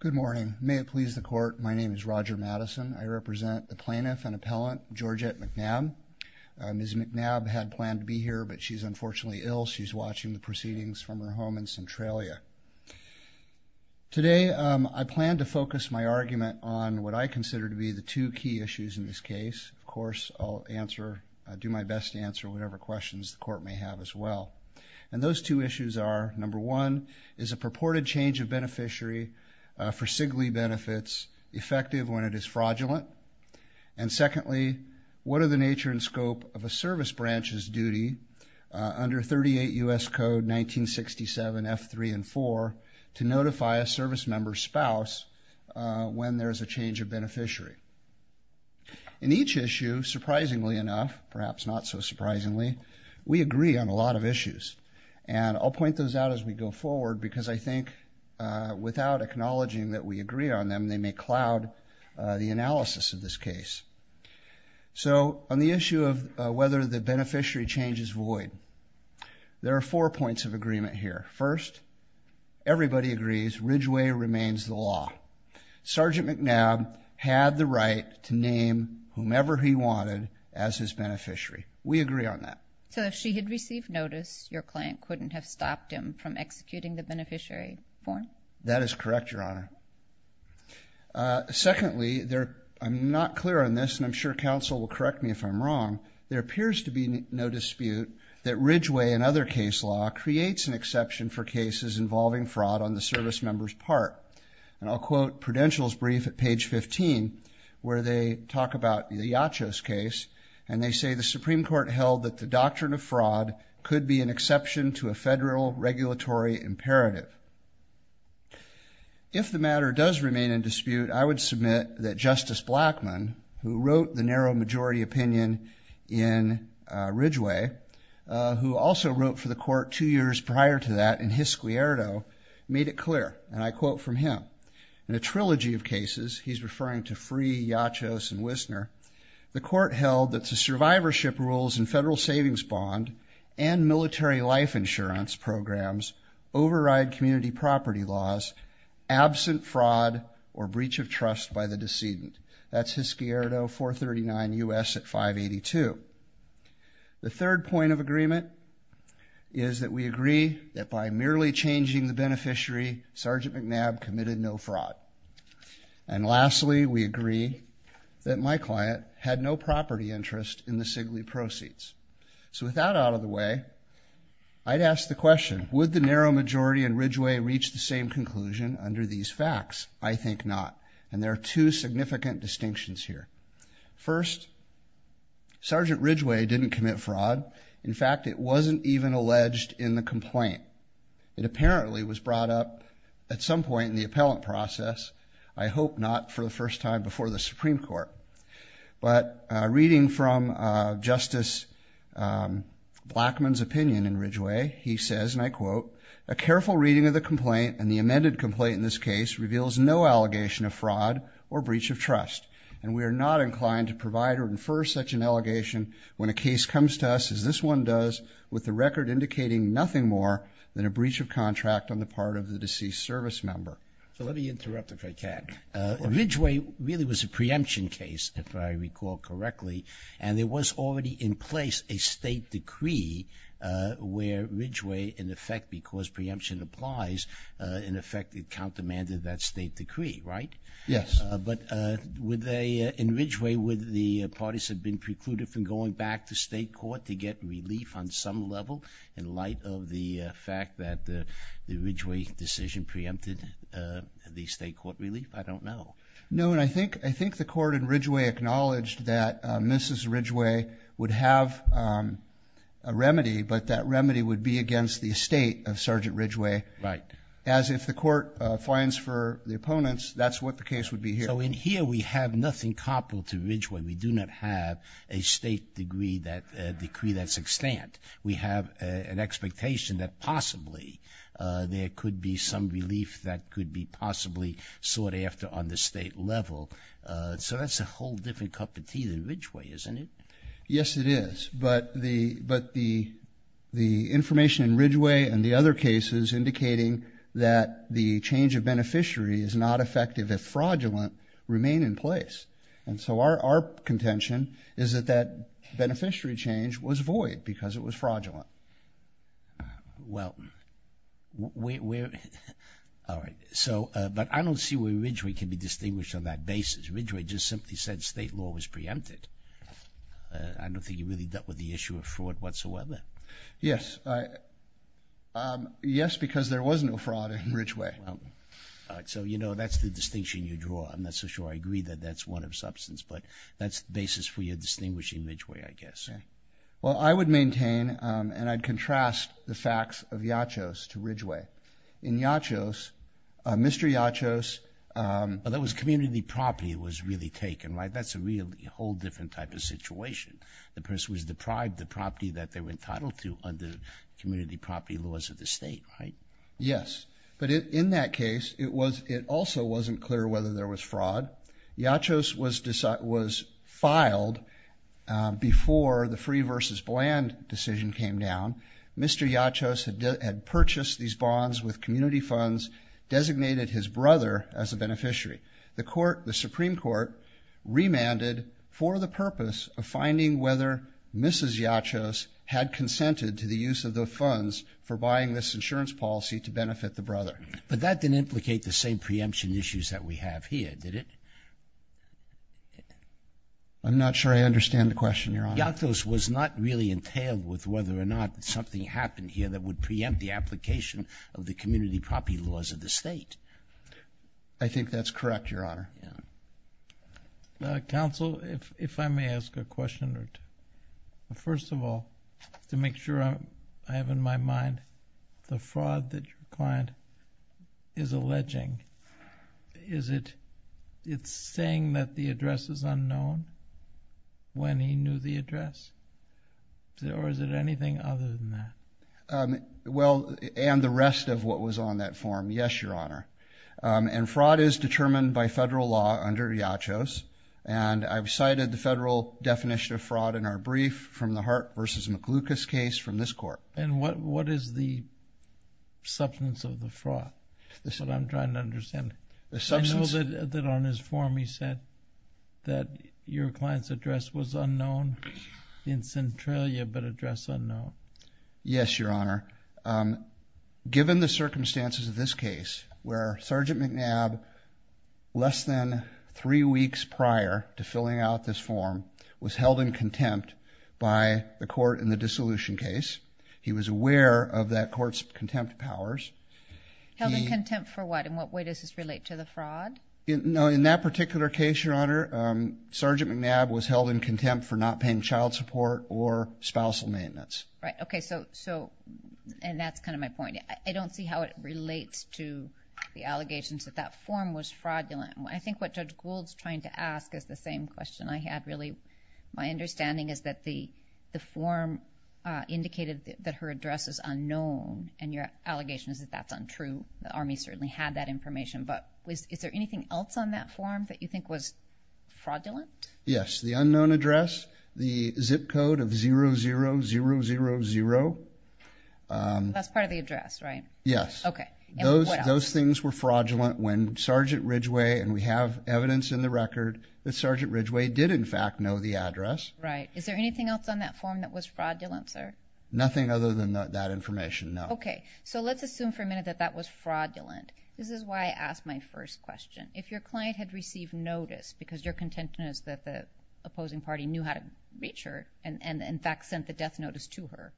Good morning. May it please the Court, my name is Roger Madison. I represent the Plaintiff and Appellant Georgette McNabb. Ms. McNabb had planned to be here but she's unfortunately ill. She's watching the proceedings from her home in Centralia. Today I plan to focus my argument on what I consider to be the two key issues in this case. Of course, I'll do my best to answer whatever questions the Court may have as well. And those two issues are number one, is a purported change of beneficiary for CIGLI benefits effective when it is fraudulent? And secondly, what are the nature and scope of a service branch's duty under 38 U.S. Code 1967, F3 and 4 to notify a service member's spouse when there is a change of beneficiary? In each issue, surprisingly enough, perhaps not so surprisingly, we agree on a lot of those as we go forward because I think without acknowledging that we agree on them, they may cloud the analysis of this case. So on the issue of whether the beneficiary change is void, there are four points of agreement here. First, everybody agrees Ridgeway remains the law. Sergeant McNabb had the right to name whomever he wanted as his beneficiary. We agree on that. So if she had received notice, your client couldn't have stopped him from executing the beneficiary form? That is correct, Your Honor. Secondly, I'm not clear on this and I'm sure counsel will correct me if I'm wrong, there appears to be no dispute that Ridgeway and other case law creates an exception for cases involving fraud on the service member's part. And I'll quote Prudential's brief at page 15 where they talk about the Iacos case and they say the Supreme Court held that the doctrine of fraud could be an exception to a federal regulatory imperative. If the matter does remain in dispute, I would submit that Justice Blackmun, who wrote the narrow majority opinion in Ridgeway, who also wrote for the court two years prior to that in his Squierdo, made it clear and I quote from him, in a trilogy of cases, he's referring to Free, Iacos, and Wisner, the court held that the survivorship rules and federal savings bond and military life insurance programs override community property laws absent fraud or breach of trust by the decedent. That's his Squierdo 439 U.S. at 582. The third point of agreement is that we agree that by merely changing the beneficiary, Sergeant McNabb committed no fraud. And lastly, we agree that my client had no property interest in the Sigley proceeds. So with that out of the way, I'd ask the question, would the narrow majority in Ridgeway reach the same conclusion under these facts? I think not. And there are two significant distinctions here. First, Sergeant Ridgeway didn't commit fraud. In fact, it wasn't even alleged in the complaint. It apparently was brought up at some point in the appellate process. I hope not for the first time before the Supreme Court. But reading from Justice Blackman's opinion in Ridgeway, he says, and I quote, a careful reading of the complaint and the amended complaint in this case reveals no allegation of fraud or breach of trust. And we are not inclined to provide or infer such an allegation when a case comes to us as this one does with the record indicating nothing more than a breach of contract on the part of the deceased service member. So let me interrupt if I can. Ridgeway really was a preemption case, if I recall correctly. And there was already in place a state decree where Ridgeway, in effect, because preemption applies, in effect, it countermanded that state decree, right? Yes. But would they, in Ridgeway, would the parties have been precluded from going back to state court to get relief on some level in light of the fact that the Ridgeway decision preempted the state court relief? I don't know. No, and I think the court in Ridgeway acknowledged that Mrs. Ridgeway would have a remedy, but that remedy would be against the estate of Sergeant Ridgeway. Right. As if the court finds for the opponents, that's what the case would be here. So in here we have nothing comparable to Ridgeway. We do not have a state decree that's extant. We have an expectation that possibly there could be some relief that could be possibly sought after on the state level. So that's a whole different cup of tea than Ridgeway, isn't it? Yes, it is. But the information in Ridgeway and the other cases indicating that the change of beneficiary is not effective if fraudulent remain in place. And so our contention is that that beneficiary change was void because it was fraudulent. Well, where, all right. So, but I don't see where Ridgeway can be distinguished on that basis. Ridgeway just simply said state law was preempted. I don't think he really dealt with the issue of fraud whatsoever. Yes. Yes, because there was no fraud in Ridgeway. All right. So, you know, that's the distinction you draw. I'm not so sure I agree that that's one of substance, but that's the basis for your distinguishing Ridgeway, I guess. Well, I would maintain and I'd contrast the facts of Yachos to Ridgeway. In Yachos, Mr. Yachos. Well, that was community property was really taken, right? That's a really whole different type of situation. The person was deprived the property that they were entitled to under community property laws of the state, right? Yes. But in that case, it was, it also wasn't clear whether there was fraud. Yachos was filed before the free versus bland decision came down. Mr. Yachos had purchased these bonds with community funds, designated his brother as a beneficiary. The court, the Supreme Court remanded for the purpose of finding whether Mrs. Yachos had consented to the use of the funds for buying this insurance policy to benefit the brother. But that didn't implicate the same preemption issues that we have here, did it? I'm not sure I understand the question, Your Honor. Yachos was not really entailed with whether or not something happened here that would preempt the application of the community property laws of the state. I think that's correct, Your Honor. Counsel, if I may ask a question, first of all, to make sure I have in my mind the fraud that your client is alleging, is it saying that the address is unknown when he knew the address? Or is it anything other than that? Well, and the rest of what was on that form, yes, Your Honor. And fraud is determined by federal law under Yachos, and I've cited the federal definition of fraud in our brief from the Glucose case from this court. And what is the substance of the fraud, what I'm trying to understand? The substance? I know that on his form he said that your client's address was unknown in Centralia, but address unknown. Yes, Your Honor. Given the circumstances of this case, where Sergeant McNabb, less than three weeks prior to filling out this form, was held in contempt by the court in the dissolution case, he was aware of that court's contempt powers. Held in contempt for what? In what way does this relate to the fraud? No, in that particular case, Your Honor, Sergeant McNabb was held in contempt for not paying child support or spousal maintenance. Right, okay, so, and that's kind of my point. I don't see how it relates to the allegations that that form was fraudulent. I think what Judge My understanding is that the form indicated that her address is unknown, and your allegation is that that's untrue. The Army certainly had that information, but is there anything else on that form that you think was fraudulent? Yes, the unknown address, the zip code of 00000. That's part of the address, right? Yes. Okay, and what else? Those things were fraudulent when Sergeant Ridgway, and we have evidence in the record that Sergeant Ridgway did in fact know the address. Right, is there anything else on that form that was fraudulent, sir? Nothing other than that information, no. Okay, so let's assume for a minute that that was fraudulent. This is why I asked my first question. If your client had received notice because your contention is that the opposing party knew how to reach her, and in fact sent the death notice to her,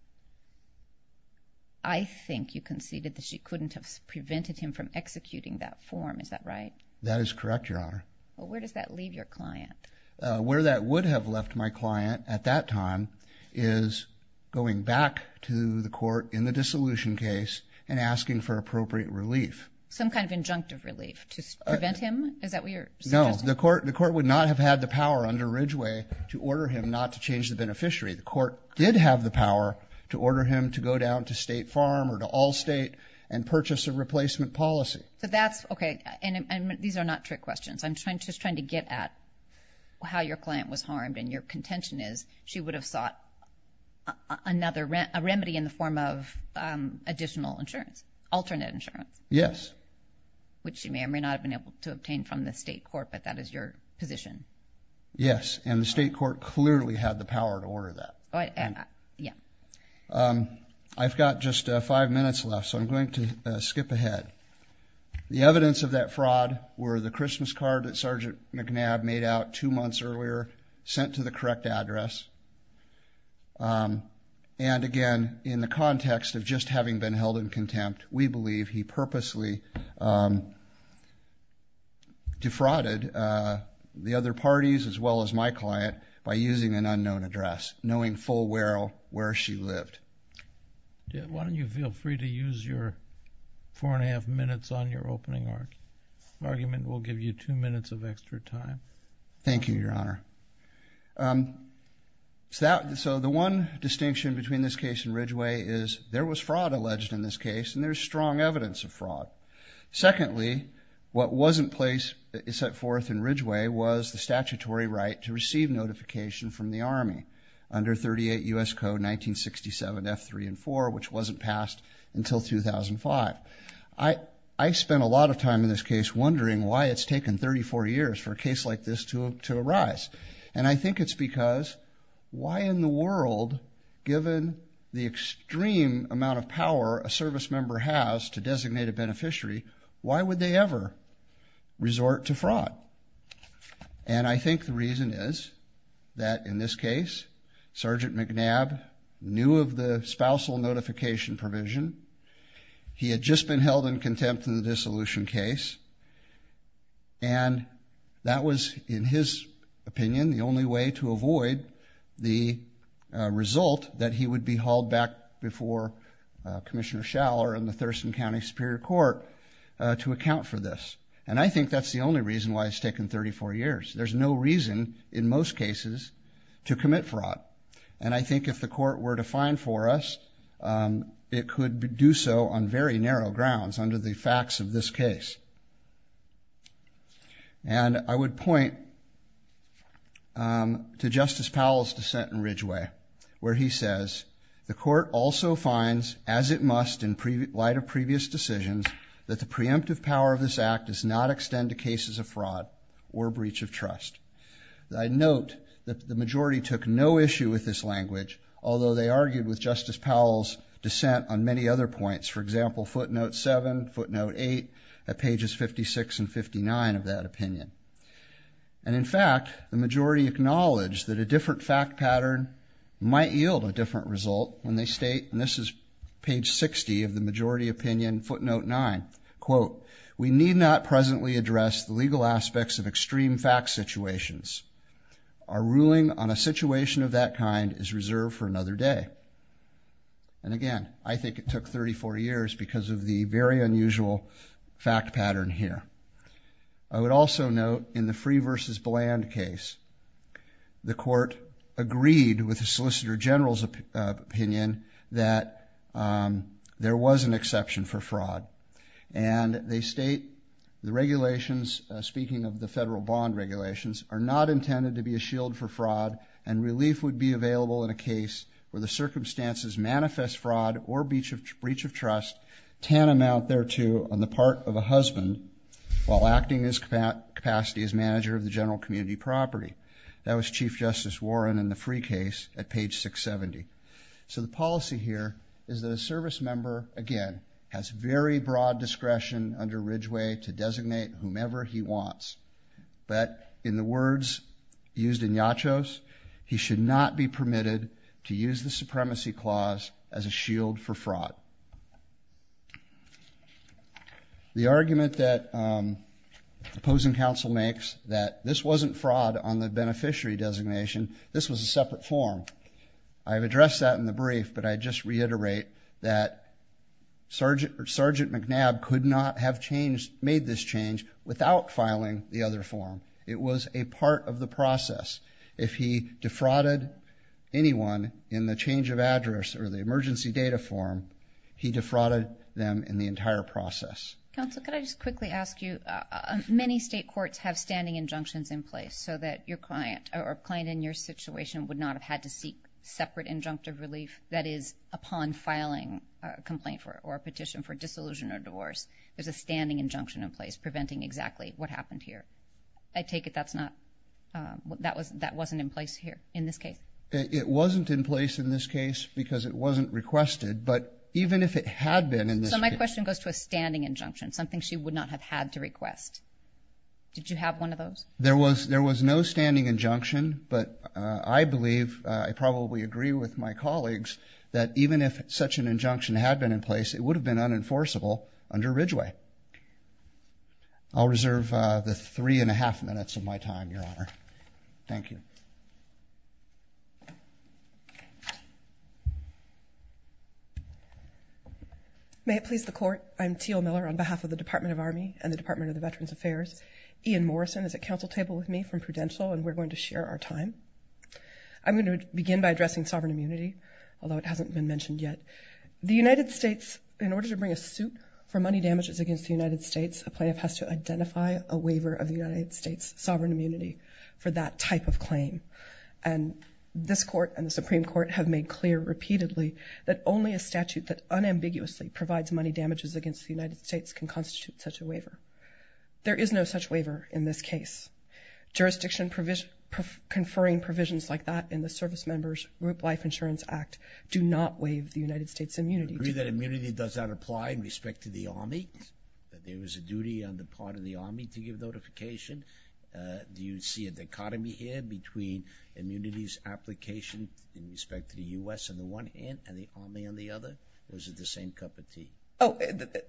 I think you conceded that she couldn't have prevented him from executing that form, is that right? That is correct, Your Honor. Well, where does that leave your client? Where that would have left my client at that time is going back to the court in the dissolution case and asking for appropriate relief. Some kind of injunctive relief to prevent him, is that what you're suggesting? No, the court would not have had the power under Ridgway to order him not to change the beneficiary. The court did have the power to order him to go down to State Farm or to Allstate and purchase a replacement policy. So that's, okay, and these are not trick questions. I'm just trying to get at how your client was harmed and your contention is she would have sought another remedy in the form of additional insurance, alternate insurance. Yes. Which she may or may not have been able to obtain from the state court, but that is your position. Yes, and the state court clearly had the power to order that. I've got just five minutes left, so I'm going to skip ahead. The evidence of that fraud were the Christmas card that McNabb made out two months earlier, sent to the correct address, and again, in the context of just having been held in contempt, we believe he purposely defrauded the other parties as well as my client by using an unknown address, knowing full well where she lived. Why don't you feel free to use your four and a half minutes on your opening argument. We'll give you two minutes of extra time. Thank you, Your Honor. So the one distinction between this case and Ridgway is there was fraud alleged in this case, and there's strong evidence of fraud. Secondly, what wasn't set forth in Ridgway was the statutory right to receive notification from the Army under 38 U.S. Code 1967, F3 and 4, which wasn't passed until 2005. I spent a lot of time in this case wondering why it's taken 34 years for a case like this to arise, and I think it's because why in the world, given the extreme amount of power a service member has to designate a beneficiary, why would they ever resort to fraud? And I think the reason is that in this case, Sergeant McNabb knew of the spousal notification provision. He had just been held in contempt in the dissolution case, and that was, in his opinion, the only way to avoid the result that he would be hauled back before Commissioner Schaller and the Thurston County Superior Court to account for this. And I think that's the only reason why it's taken 34 years. There's no reason in most cases to commit fraud, and I think if the Court were to find for us, it could do so on very narrow grounds under the facts of this case. And I would point to Justice Powell's dissent in Ridgway, where he says, the Court also finds, as it must in light of previous decisions, that the preemptive power of this Act does not extend to cases of fraud or breach of trust. I note that the majority took no issue with this language, although they argued with Justice Powell's dissent on many other points, for example footnote 7, footnote 8, at pages 56 and 59 of that opinion. And in fact, the majority acknowledged that a different fact pattern might yield a different result when they state, and this is page 60 of the majority opinion, footnote 9, quote, we need not presently address the legal aspects of extreme fact situations. Our ruling on a situation of that kind is reserved for another day. And again, I think it took 34 years because of the very unusual fact pattern here. I would also note, in the Free v. Bland case, the Court agreed with the Solicitor General's opinion that there was an exception for fraud. And they state the regulations, speaking of the federal bond regulations, are not intended to be a shield for fraud and relief would be available in a case where the circumstances manifest fraud or breach of trust tantamount thereto on the part of a husband while acting in his capacity as manager of the general community property. That was Chief Justice Warren in the Free case at page 670. So the policy here is that a service member, again, has very broad discretion under Ridgway to designate whomever he wants. But in the words used in Yachos, he should not be permitted to use the supremacy clause as a shield for fraud. The argument that opposing counsel makes that this wasn't fraud on the beneficiary designation, this was a separate form. I've addressed that in the brief, but I just reiterate that Sergeant McNabb could not have made this change without filing the other form. It was a part of the process. If he defrauded anyone in the change of address or the emergency data form, he defrauded them in the entire process. Counsel, could I just quickly ask you, many state courts have standing injunctions in place so that your client or a client in your situation would not have had to seek separate injunctive relief, that is, upon filing a complaint or a petition for disillusion or divorce, there's a standing injunction in place preventing exactly what happened here. I take it that's not, that wasn't in place here in this case? It wasn't in place in this case because it wasn't requested, but even if it had been in this case... So my question goes to a standing injunction, something she would not have had to request. Did you have one of those? There was, there was no standing injunction, but I believe, I probably agree with my colleagues that even if such an injunction had been in place, it would have been unenforceable under Ridgway. I'll reserve the three and a half minutes of my time, Your Honor. Thank you. May it please the Court, I'm Teal Miller on behalf of the Department of Army and the Department of the Veterans Affairs. Ian Morrison is at council table with me from Prudential, and we're going to share our time. I'm going to begin by addressing sovereign immunity, although it hasn't been mentioned yet. The United States, in order to bring a suit for money damages against the United States, a plaintiff has to identify a waiver of the United States sovereign immunity for that type of claim, and this Court and the Supreme Court have made clear repeatedly that only a statute that unambiguously provides money damages against the United States can constitute such a waiver. There is no such waiver in this case. Jurisdiction conferring provisions like that in the Service Members Group Life Insurance Act do not waive the United States' immunity. Do you agree that immunity does not apply in respect to the Army, that there is a duty on the part of the Army to give notification? Do you see a dichotomy here between immunity's application in respect to the U.S. on the one hand and the Army on the other, or is it the same cup of tea? Oh,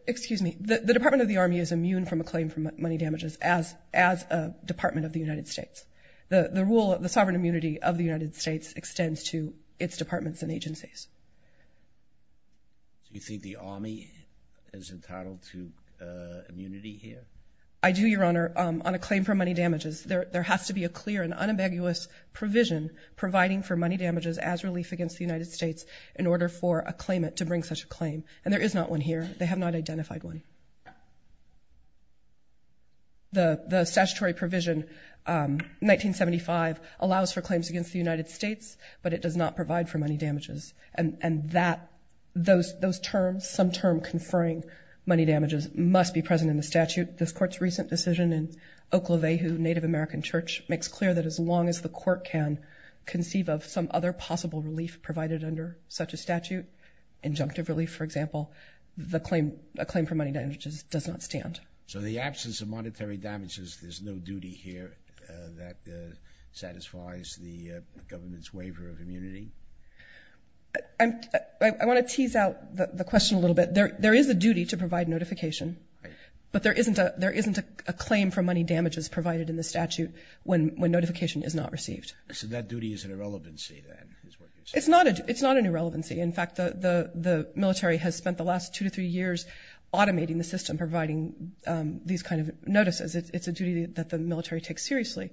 excuse me. The Department of the Army is immune from a claim for money damages as a Department of the United States. The rule of the sovereign immunity of the United States extends to its departments and agencies. Do you think the Army is entitled to immunity here? I do, Your Honor. On a claim for money damages, there has to be a clear and unambiguous provision providing for money damages as relief against the United States in order for a claimant to bring such a claim. And there is not one here. They have not identified one. The statutory provision 1975 allows for claims against the United States, but it does not provide for money damages. And those terms, some term conferring money damages, must be present in the statute. This Court's recent decision in Oklahvehu Native American Church makes clear that as long as the Court can conceive of some other possible relief provided under such a statute, injunctive relief, for example, a claim for money damages does not stand. So the absence of monetary damages, there's no duty here that satisfies the government's waiver of immunity? I want to tease out the question a little bit. There is a duty to provide notification, but there isn't a claim for money damages provided in the statute when notification is not received. So that duty is an irrelevancy, then, is what you're saying? It's not an irrelevancy. In fact, the military has spent the last two to three years automating the system, providing these kind of notices. It's a duty that the military takes seriously,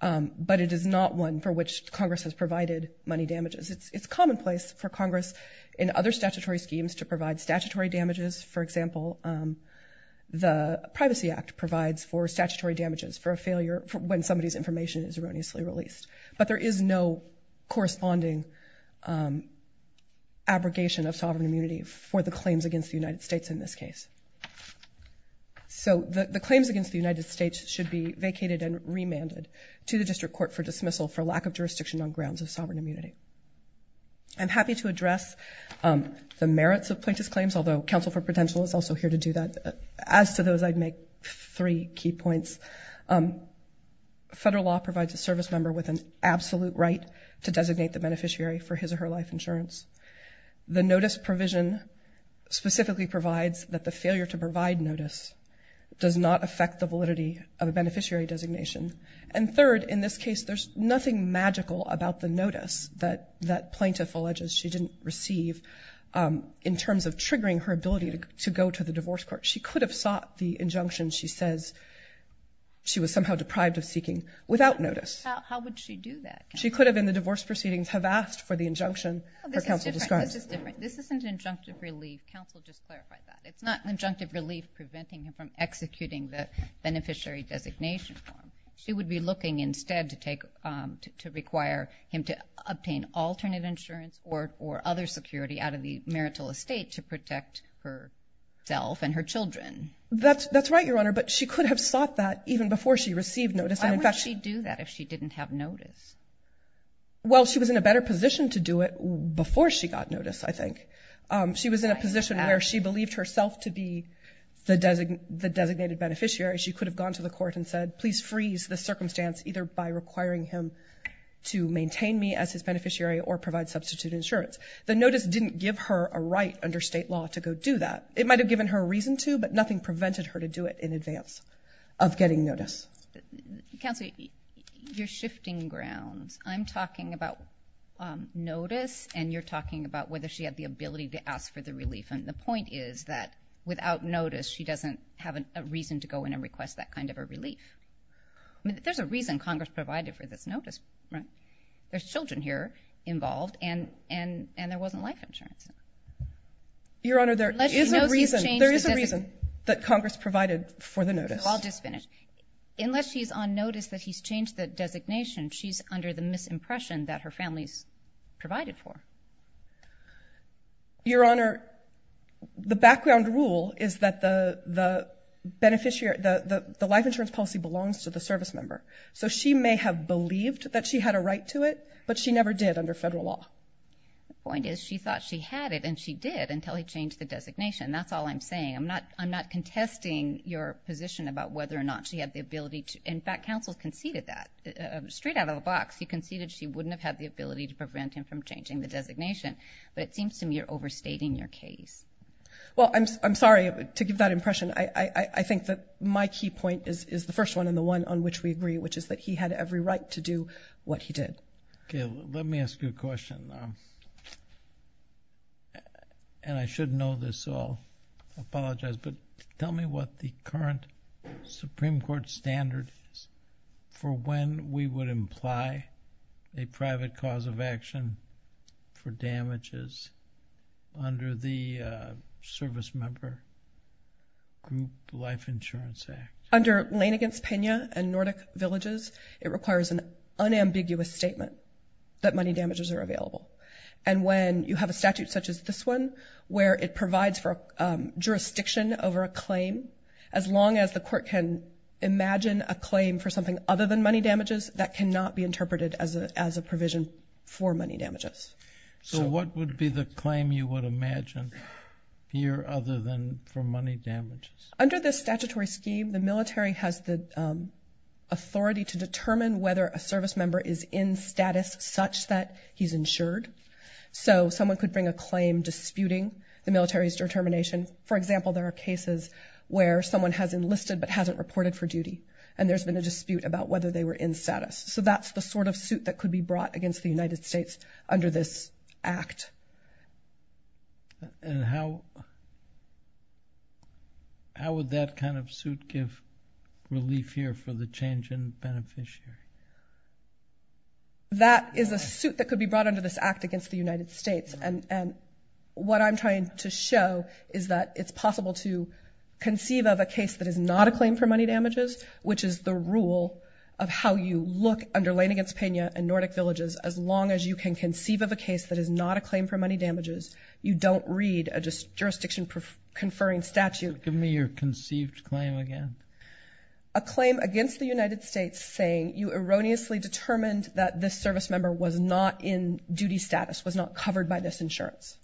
but it is not one for which Congress has provided money damages. It's commonplace for Congress in other statutory schemes to provide statutory damages. For example, the Privacy Act provides for statutory damages for a failure when somebody's information is erroneously released. But there is no corresponding abrogation of sovereign immunity for the claims against the United States in this case. So the claims against the United States should be vacated and remanded to the district court for dismissal for lack of jurisdiction on grounds of sovereign immunity. I'm happy to address the merits of plaintiff's claims, although counsel for potential is also here to do that. As to those, I'd make three key points. First, federal law provides a service member with an absolute right to designate the beneficiary for his or her life insurance. The notice provision specifically provides that the failure to provide notice does not affect the validity of a beneficiary designation. And third, in this case, there's nothing magical about the notice that plaintiff alleges she didn't receive in terms of triggering her ability to go to the divorce court. She could have sought the injunction she says she was somehow deprived of seeking without notice. How would she do that? She could have, in the divorce proceedings, have asked for the injunction her counsel describes. This is different. This isn't an injunctive relief. Counsel just clarified that. It's not an injunctive relief preventing him from executing the beneficiary designation form. She would be looking instead to require him to obtain alternate insurance or other security out of the marital estate to protect herself and her children. That's right, Your Honor. But she could have sought that even before she received notice. Why would she do that if she didn't have notice? Well, she was in a better position to do it before she got notice, I think. She was in a position where she believed herself to be the designated beneficiary. She could have gone to the court and said, please freeze this circumstance either by requiring him to maintain me as his beneficiary or provide substitute insurance. The notice didn't give her a right under state law to go do that. It might have given her a reason to, but nothing prevented her to do it in advance of getting notice. Counsel, you're shifting grounds. I'm talking about notice and you're talking about whether she had the ability to ask for the relief. And the point is that without notice, she doesn't have a reason to go in and request that kind of a relief. I mean, there's a reason Congress provided for this notice, right? There's children here involved and there wasn't life insurance. Your Honor, there is a reason that Congress provided for the notice. I'll just finish. Unless she's on notice that he's changed the designation, she's under the misimpression that her family's provided for. Your Honor, the background rule is that the life insurance policy belongs to the service member. So she may have believed that she had a right to it, but she never did under federal law. The point is she thought she had it and she did until he changed the designation. That's all I'm saying. I'm not contesting your position about whether or not she had the ability to. In fact, counsel conceded that. Straight out of the box, he conceded she wouldn't have had the ability to prevent him from changing the designation. But it seems to me you're overstating your case. Well, I'm sorry to give that impression. I think that my key point is the first one and the one on which we agree, which is that he had every right to do what he did. Okay, let me ask you a question, and I should know this, so I'll apologize, but tell me what the current Supreme Court standard is for when we would imply a private cause of group life insurance act. Under Lane against Pena and Nordic Villages, it requires an unambiguous statement that money damages are available. And when you have a statute such as this one, where it provides for jurisdiction over a claim, as long as the court can imagine a claim for something other than money damages, that cannot be interpreted as a provision for money damages. So what would be the claim you would imagine here other than for money damages? Under this statutory scheme, the military has the authority to determine whether a service member is in status such that he's insured. So someone could bring a claim disputing the military's determination. For example, there are cases where someone has enlisted but hasn't reported for duty, and there's been a dispute about whether they were in status. So that's the sort of suit that could be brought against the United States under this act. And how would that kind of suit give relief here for the change in beneficiary? That is a suit that could be brought under this act against the United States, and what I'm trying to show is that it's possible to conceive of a case that is not a claim for Look under Lane against Pena and Nordic Villages, as long as you can conceive of a case that is not a claim for money damages, you don't read a jurisdiction-conferring statute. Give me your conceived claim again. A claim against the United States saying you erroneously determined that this service member was not in duty status, was not covered by this insurance.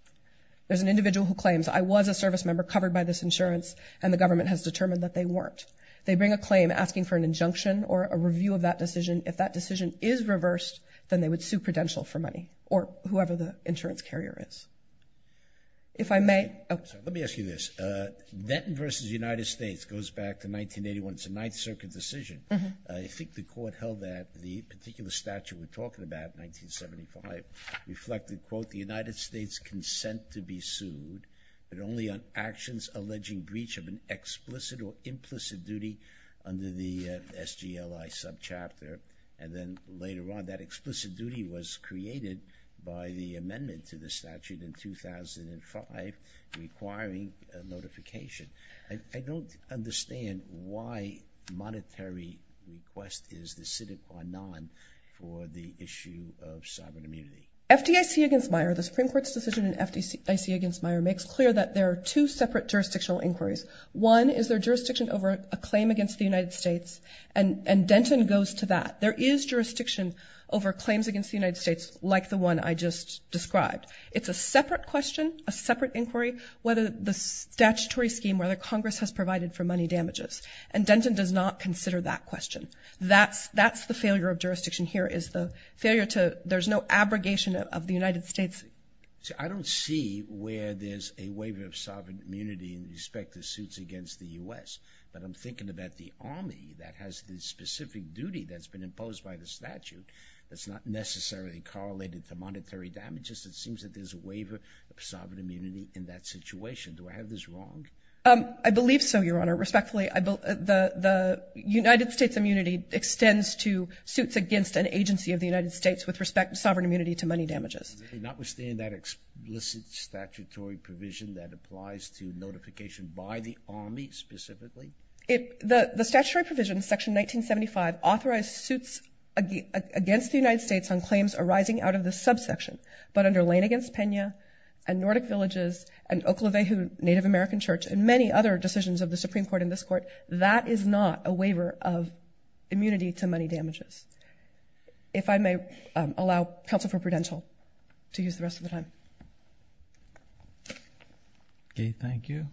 There's an individual who claims, I was a service member covered by this insurance, and the government has determined that they weren't. They bring a claim asking for an injunction or a review of that decision. If that decision is reversed, then they would sue Prudential for money, or whoever the insurance carrier is. If I may. Let me ask you this. Netton v. United States goes back to 1981, it's a Ninth Circuit decision. I think the court held that the particular statute we're talking about, 1975, reflected quote, the United States consent to be sued, but only on actions alleging breach of an explicit duty under the SGLI subchapter, and then later on, that explicit duty was created by the amendment to the statute in 2005, requiring a notification. I don't understand why monetary request is decided or not for the issue of sovereign immunity. FDIC against Meijer, the Supreme Court's decision in FDIC against Meijer makes clear that there are two separate jurisdictional inquiries. One is there jurisdiction over a claim against the United States, and Denton goes to that. There is jurisdiction over claims against the United States, like the one I just described. It's a separate question, a separate inquiry, whether the statutory scheme, whether Congress has provided for money damages, and Denton does not consider that question. That's the failure of jurisdiction here, is the failure to, there's no abrogation of the United States. I don't see where there's a waiver of sovereign immunity in respect to suits against the U.S., but I'm thinking about the Army that has the specific duty that's been imposed by the statute that's not necessarily correlated to monetary damages. It seems that there's a waiver of sovereign immunity in that situation. Do I have this wrong? I believe so, Your Honor. Respectfully, the United States immunity extends to suits against an agency of the United States with respect to sovereign immunity to money damages. Does it not withstand that explicit statutory provision that applies to notification by the Army specifically? The statutory provision, section 1975, authorized suits against the United States on claims arising out of the subsection, but under Lane v. Pena, and Nordic Villages, and Oklahoma Native American Church, and many other decisions of the Supreme Court and this Court, that is not a waiver of immunity to money damages. If I may allow counsel for Prudential to use the rest of the time. Okay, thank you.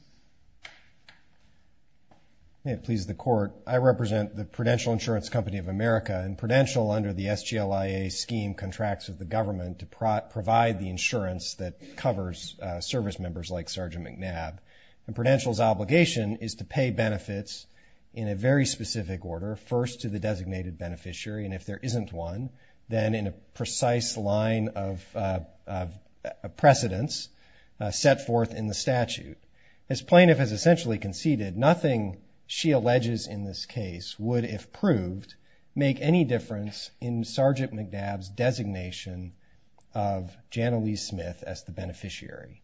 May it please the Court. I represent the Prudential Insurance Company of America, and Prudential, under the SGLIA scheme, contracts with the government to provide the insurance that covers service members like Sergeant McNabb, and Prudential's obligation is to pay benefits in a very specific order, first to the designated beneficiary, and if there isn't one, then in a precise line of precedence, set forth in the statute. As plaintiff has essentially conceded, nothing she alleges in this case would, if proved, make any difference in Sergeant McNabb's designation of Janelise Smith as the beneficiary.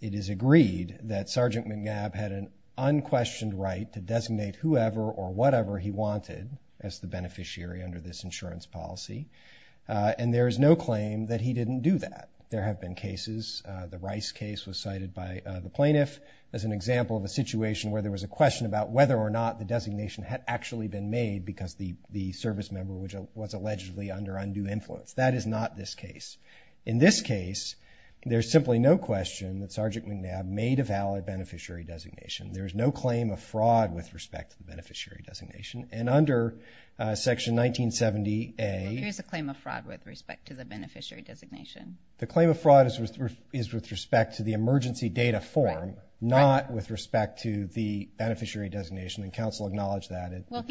It is agreed that Sergeant McNabb had an unquestioned right to designate whoever or whatever he wanted as the beneficiary under this insurance policy, and there is no claim that he didn't do that. There have been cases, the Rice case was cited by the plaintiff as an example of a situation where there was a question about whether or not the designation had actually been made because the service member was allegedly under undue influence. That is not this case. In this case, there is simply no question that Sergeant McNabb made a valid beneficiary designation. There is no claim of fraud with respect to the beneficiary designation, and under Section 1970A. Well, there is a claim of fraud with respect to the beneficiary designation. The claim of fraud is with respect to the emergency data form, not with respect to the beneficiary designation, and counsel acknowledged that. Well,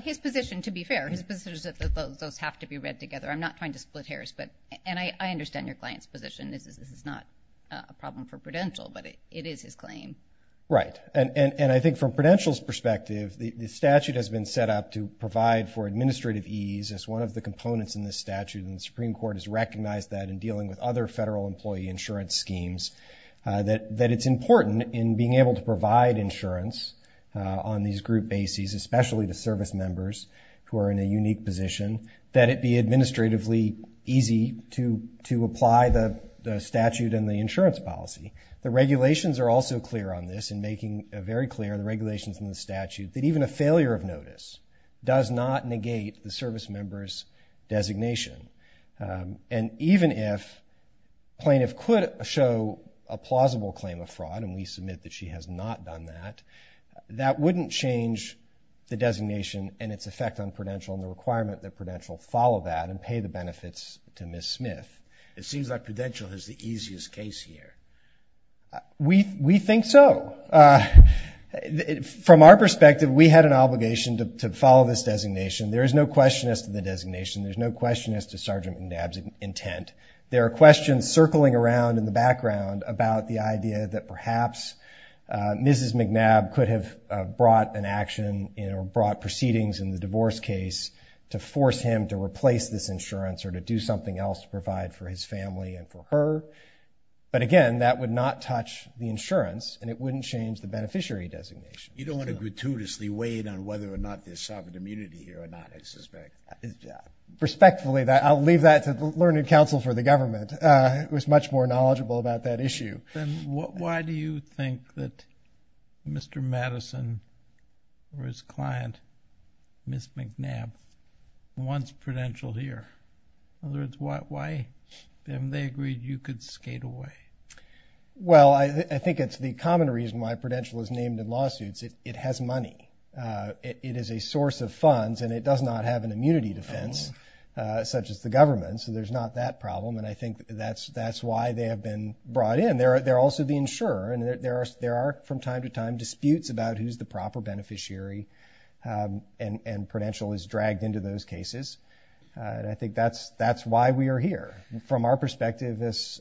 his position, to be fair, his position is that those have to be read together. I'm not trying to split hairs, and I understand your client's position. Right, and I think from Prudential's perspective, the statute has been set up to provide for administrative ease as one of the components in this statute, and the Supreme Court has recognized that in dealing with other federal employee insurance schemes, that it's important in being able to provide insurance on these group bases, especially the service members who are in a unique position, that it be administratively easy to apply the statute and the insurance policy. The regulations are also clear on this in making it very clear, the regulations in the statute, that even a failure of notice does not negate the service member's designation, and even if plaintiff could show a plausible claim of fraud, and we submit that she has not done that, that wouldn't change the designation and its effect on Prudential and the requirement that Prudential follow that and pay the benefits to Ms. Smith. It seems like Prudential has the easiest case here. We think so. From our perspective, we had an obligation to follow this designation. There is no question as to the designation. There's no question as to Sergeant McNabb's intent. There are questions circling around in the background about the idea that perhaps Mrs. McNabb could have brought an action or brought proceedings in the divorce case to force him to replace this insurance or to do something else to provide for his family and for her, but again, that would not touch the insurance and it wouldn't change the beneficiary designation. You don't want to gratuitously weigh in on whether or not there's sovereign immunity here or not, I suspect. Respectfully, I'll leave that to the Learned Counsel for the government, who is much more knowledgeable about that issue. Then why do you think that Mr. Madison or his client, Ms. McNabb, wants Prudential here? In other words, why haven't they agreed you could skate away? Well, I think it's the common reason why Prudential is named in lawsuits. It has money. It is a source of funds and it does not have an immunity defense, such as the government, so there's not that problem and I think that's why they have been brought in. They're also the insurer and there are, from time to time, disputes about who's the proper beneficiary and Prudential is dragged into those cases. I think that's why we are here. From our perspective, as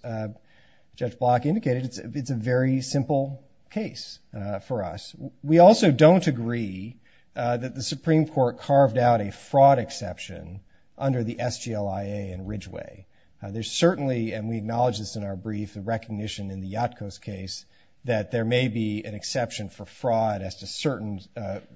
Judge Block indicated, it's a very simple case for us. We also don't agree that the Supreme Court carved out a fraud exception under the SGLIA in Ridgeway. There's certainly, and we acknowledge this in our brief, the recognition in the Yatko's case that there may be an exception for fraud as to certain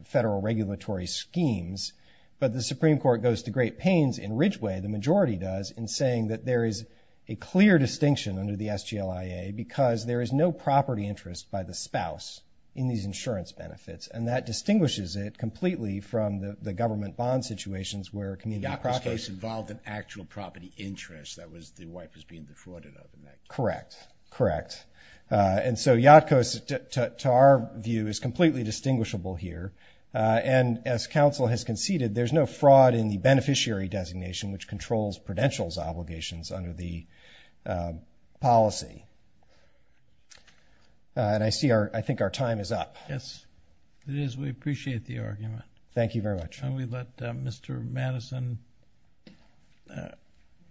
federal regulatory schemes, but the Supreme Court goes to great pains in Ridgeway, the majority does, in saying that there is a clear distinction under the SGLIA because there is no property interest by the spouse in these insurance benefits and that distinguishes it completely from the government bond situations where a community property... The Yatko's case involved an actual property interest. That was the wife was being defrauded of. Correct, correct. And so Yatko's, to our view, is completely distinguishable here and as counsel has conceded, there's no fraud in the beneficiary designation, which controls Prudential's obligations under the policy. And I see our, I think our time is up. Yes, it is. We appreciate the argument. Thank you very much. And we let Mr. Madison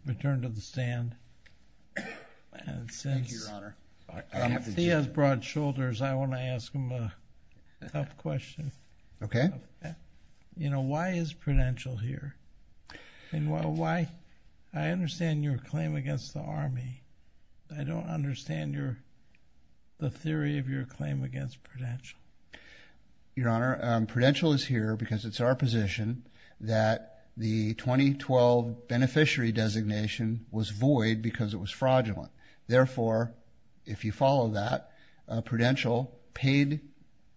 return to the stand. Thank you, Your Honor. Since he has broad shoulders, I want to ask him a tough question. Okay. You know, why is Prudential here? And why, I understand your claim against the Army. I don't understand the theory of your claim against Prudential. Your Honor, Prudential is here because it's our position that the 2012 beneficiary designation was void because it was fraudulent. Therefore, if you follow that, Prudential paid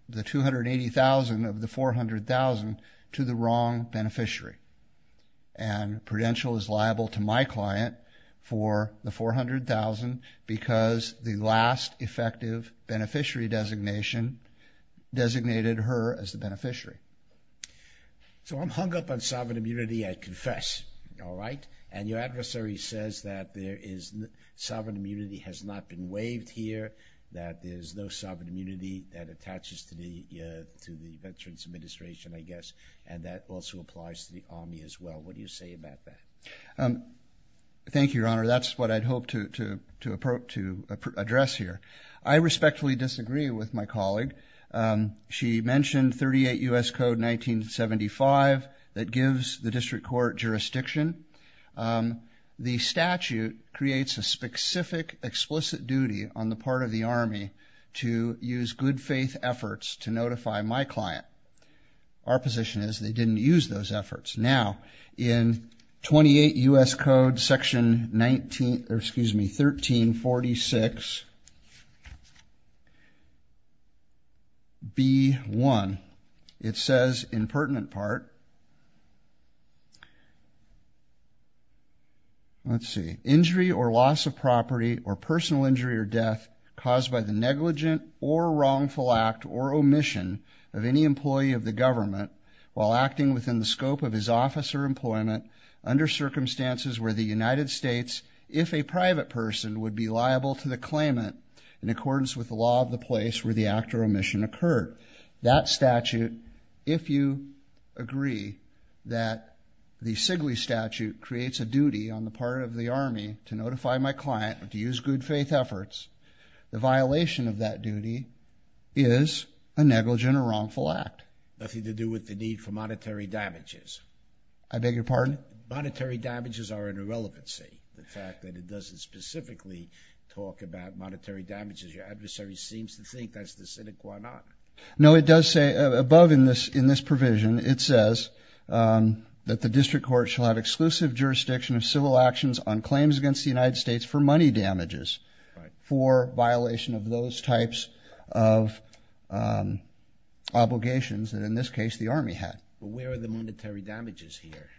the $280,000 of the $400,000 to the wrong beneficiary. And Prudential is liable to my client for the $400,000 because the last effective beneficiary designation designated her as the beneficiary. So I'm hung up on sovereign immunity, I confess. All right? And your adversary says that there is, sovereign immunity has not been waived here, that there's no sovereign immunity that attaches to the Veterans Administration, I guess. And that also applies to the Army as well. What do you say about that? Thank you, Your Honor. That's what I'd hoped to address here. I respectfully disagree with my colleague. She mentioned 38 U.S. Code 1975 that gives the district court jurisdiction. The statute creates a specific explicit duty on the part of the Army to use good faith efforts to notify my client. Our position is they didn't use those efforts. Now, in 28 U.S. Code Section 1346B1, it says in pertinent part, let's see, injury or loss of property or personal injury or death caused by the negligent or wrongful act or omission of any employee of the government while acting within the scope of his office or employment under circumstances where the United States, if a private person, would be liable to the claimant in accordance with the law of the place where the act or omission occurred. That statute, if you agree that the SIGLE statute creates a duty on the part of the Army to notify my client or to use good faith efforts, the violation of that duty is a negligent or wrongful act. Nothing to do with the need for monetary damages. I beg your pardon? Monetary damages are an irrelevancy. The fact that it doesn't specifically talk about monetary damages, your adversary seems to think that's the cynic why not. No, it does say above in this provision, it says that the district court shall have exclusive jurisdiction of civil actions on claims against the United States for money damages for violation of those types of obligations that in this case the Army had. But where are the monetary damages here?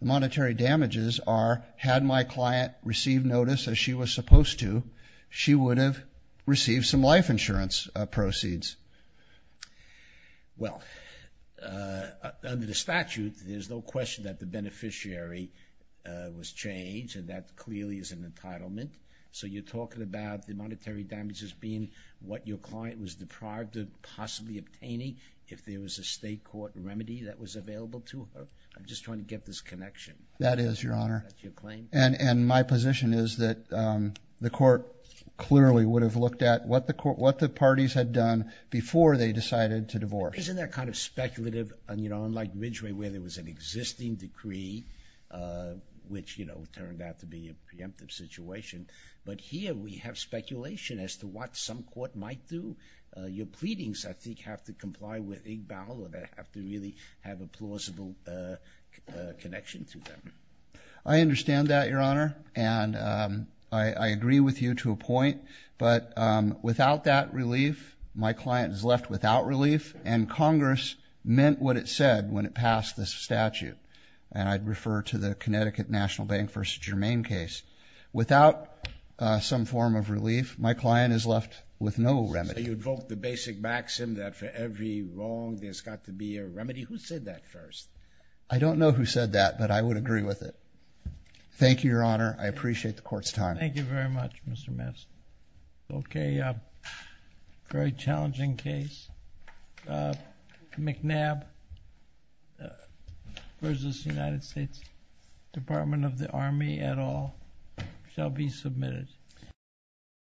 Monetary damages are had my client received notice as she was supposed to, she would have received some life insurance proceeds. Well, under the statute, there's no question that the beneficiary was changed, and that clearly is an entitlement. So you're talking about the monetary damages being what your client was deprived of possibly obtaining if there was a state court remedy that was available to her? I'm just trying to get this connection. That is, Your Honor. And my position is that the court clearly would have looked at what the parties had done before they decided to divorce. Isn't that kind of speculative? You know, unlike Ridgeway where there was an existing decree, which, you know, turned out to be a preemptive situation. But here we have speculation as to what some court might do. Your pleadings, I think, have to comply with IGBAL, or they have to really have a plausible connection to them. And I agree with you to a point. But without that relief, my client is left without relief, and Congress meant what it said when it passed this statute. And I'd refer to the Connecticut National Bank v. Germain case. Without some form of relief, my client is left with no remedy. So you'd vote the basic maxim that for every wrong, there's got to be a remedy? Who said that first? I don't know who said that, but I would agree with it. Thank you, Your Honor. I appreciate the court's time. Thank you very much, Mr. Madsen. Okay. Very challenging case. McNabb v. United States Department of the Army et al. Shall be submitted.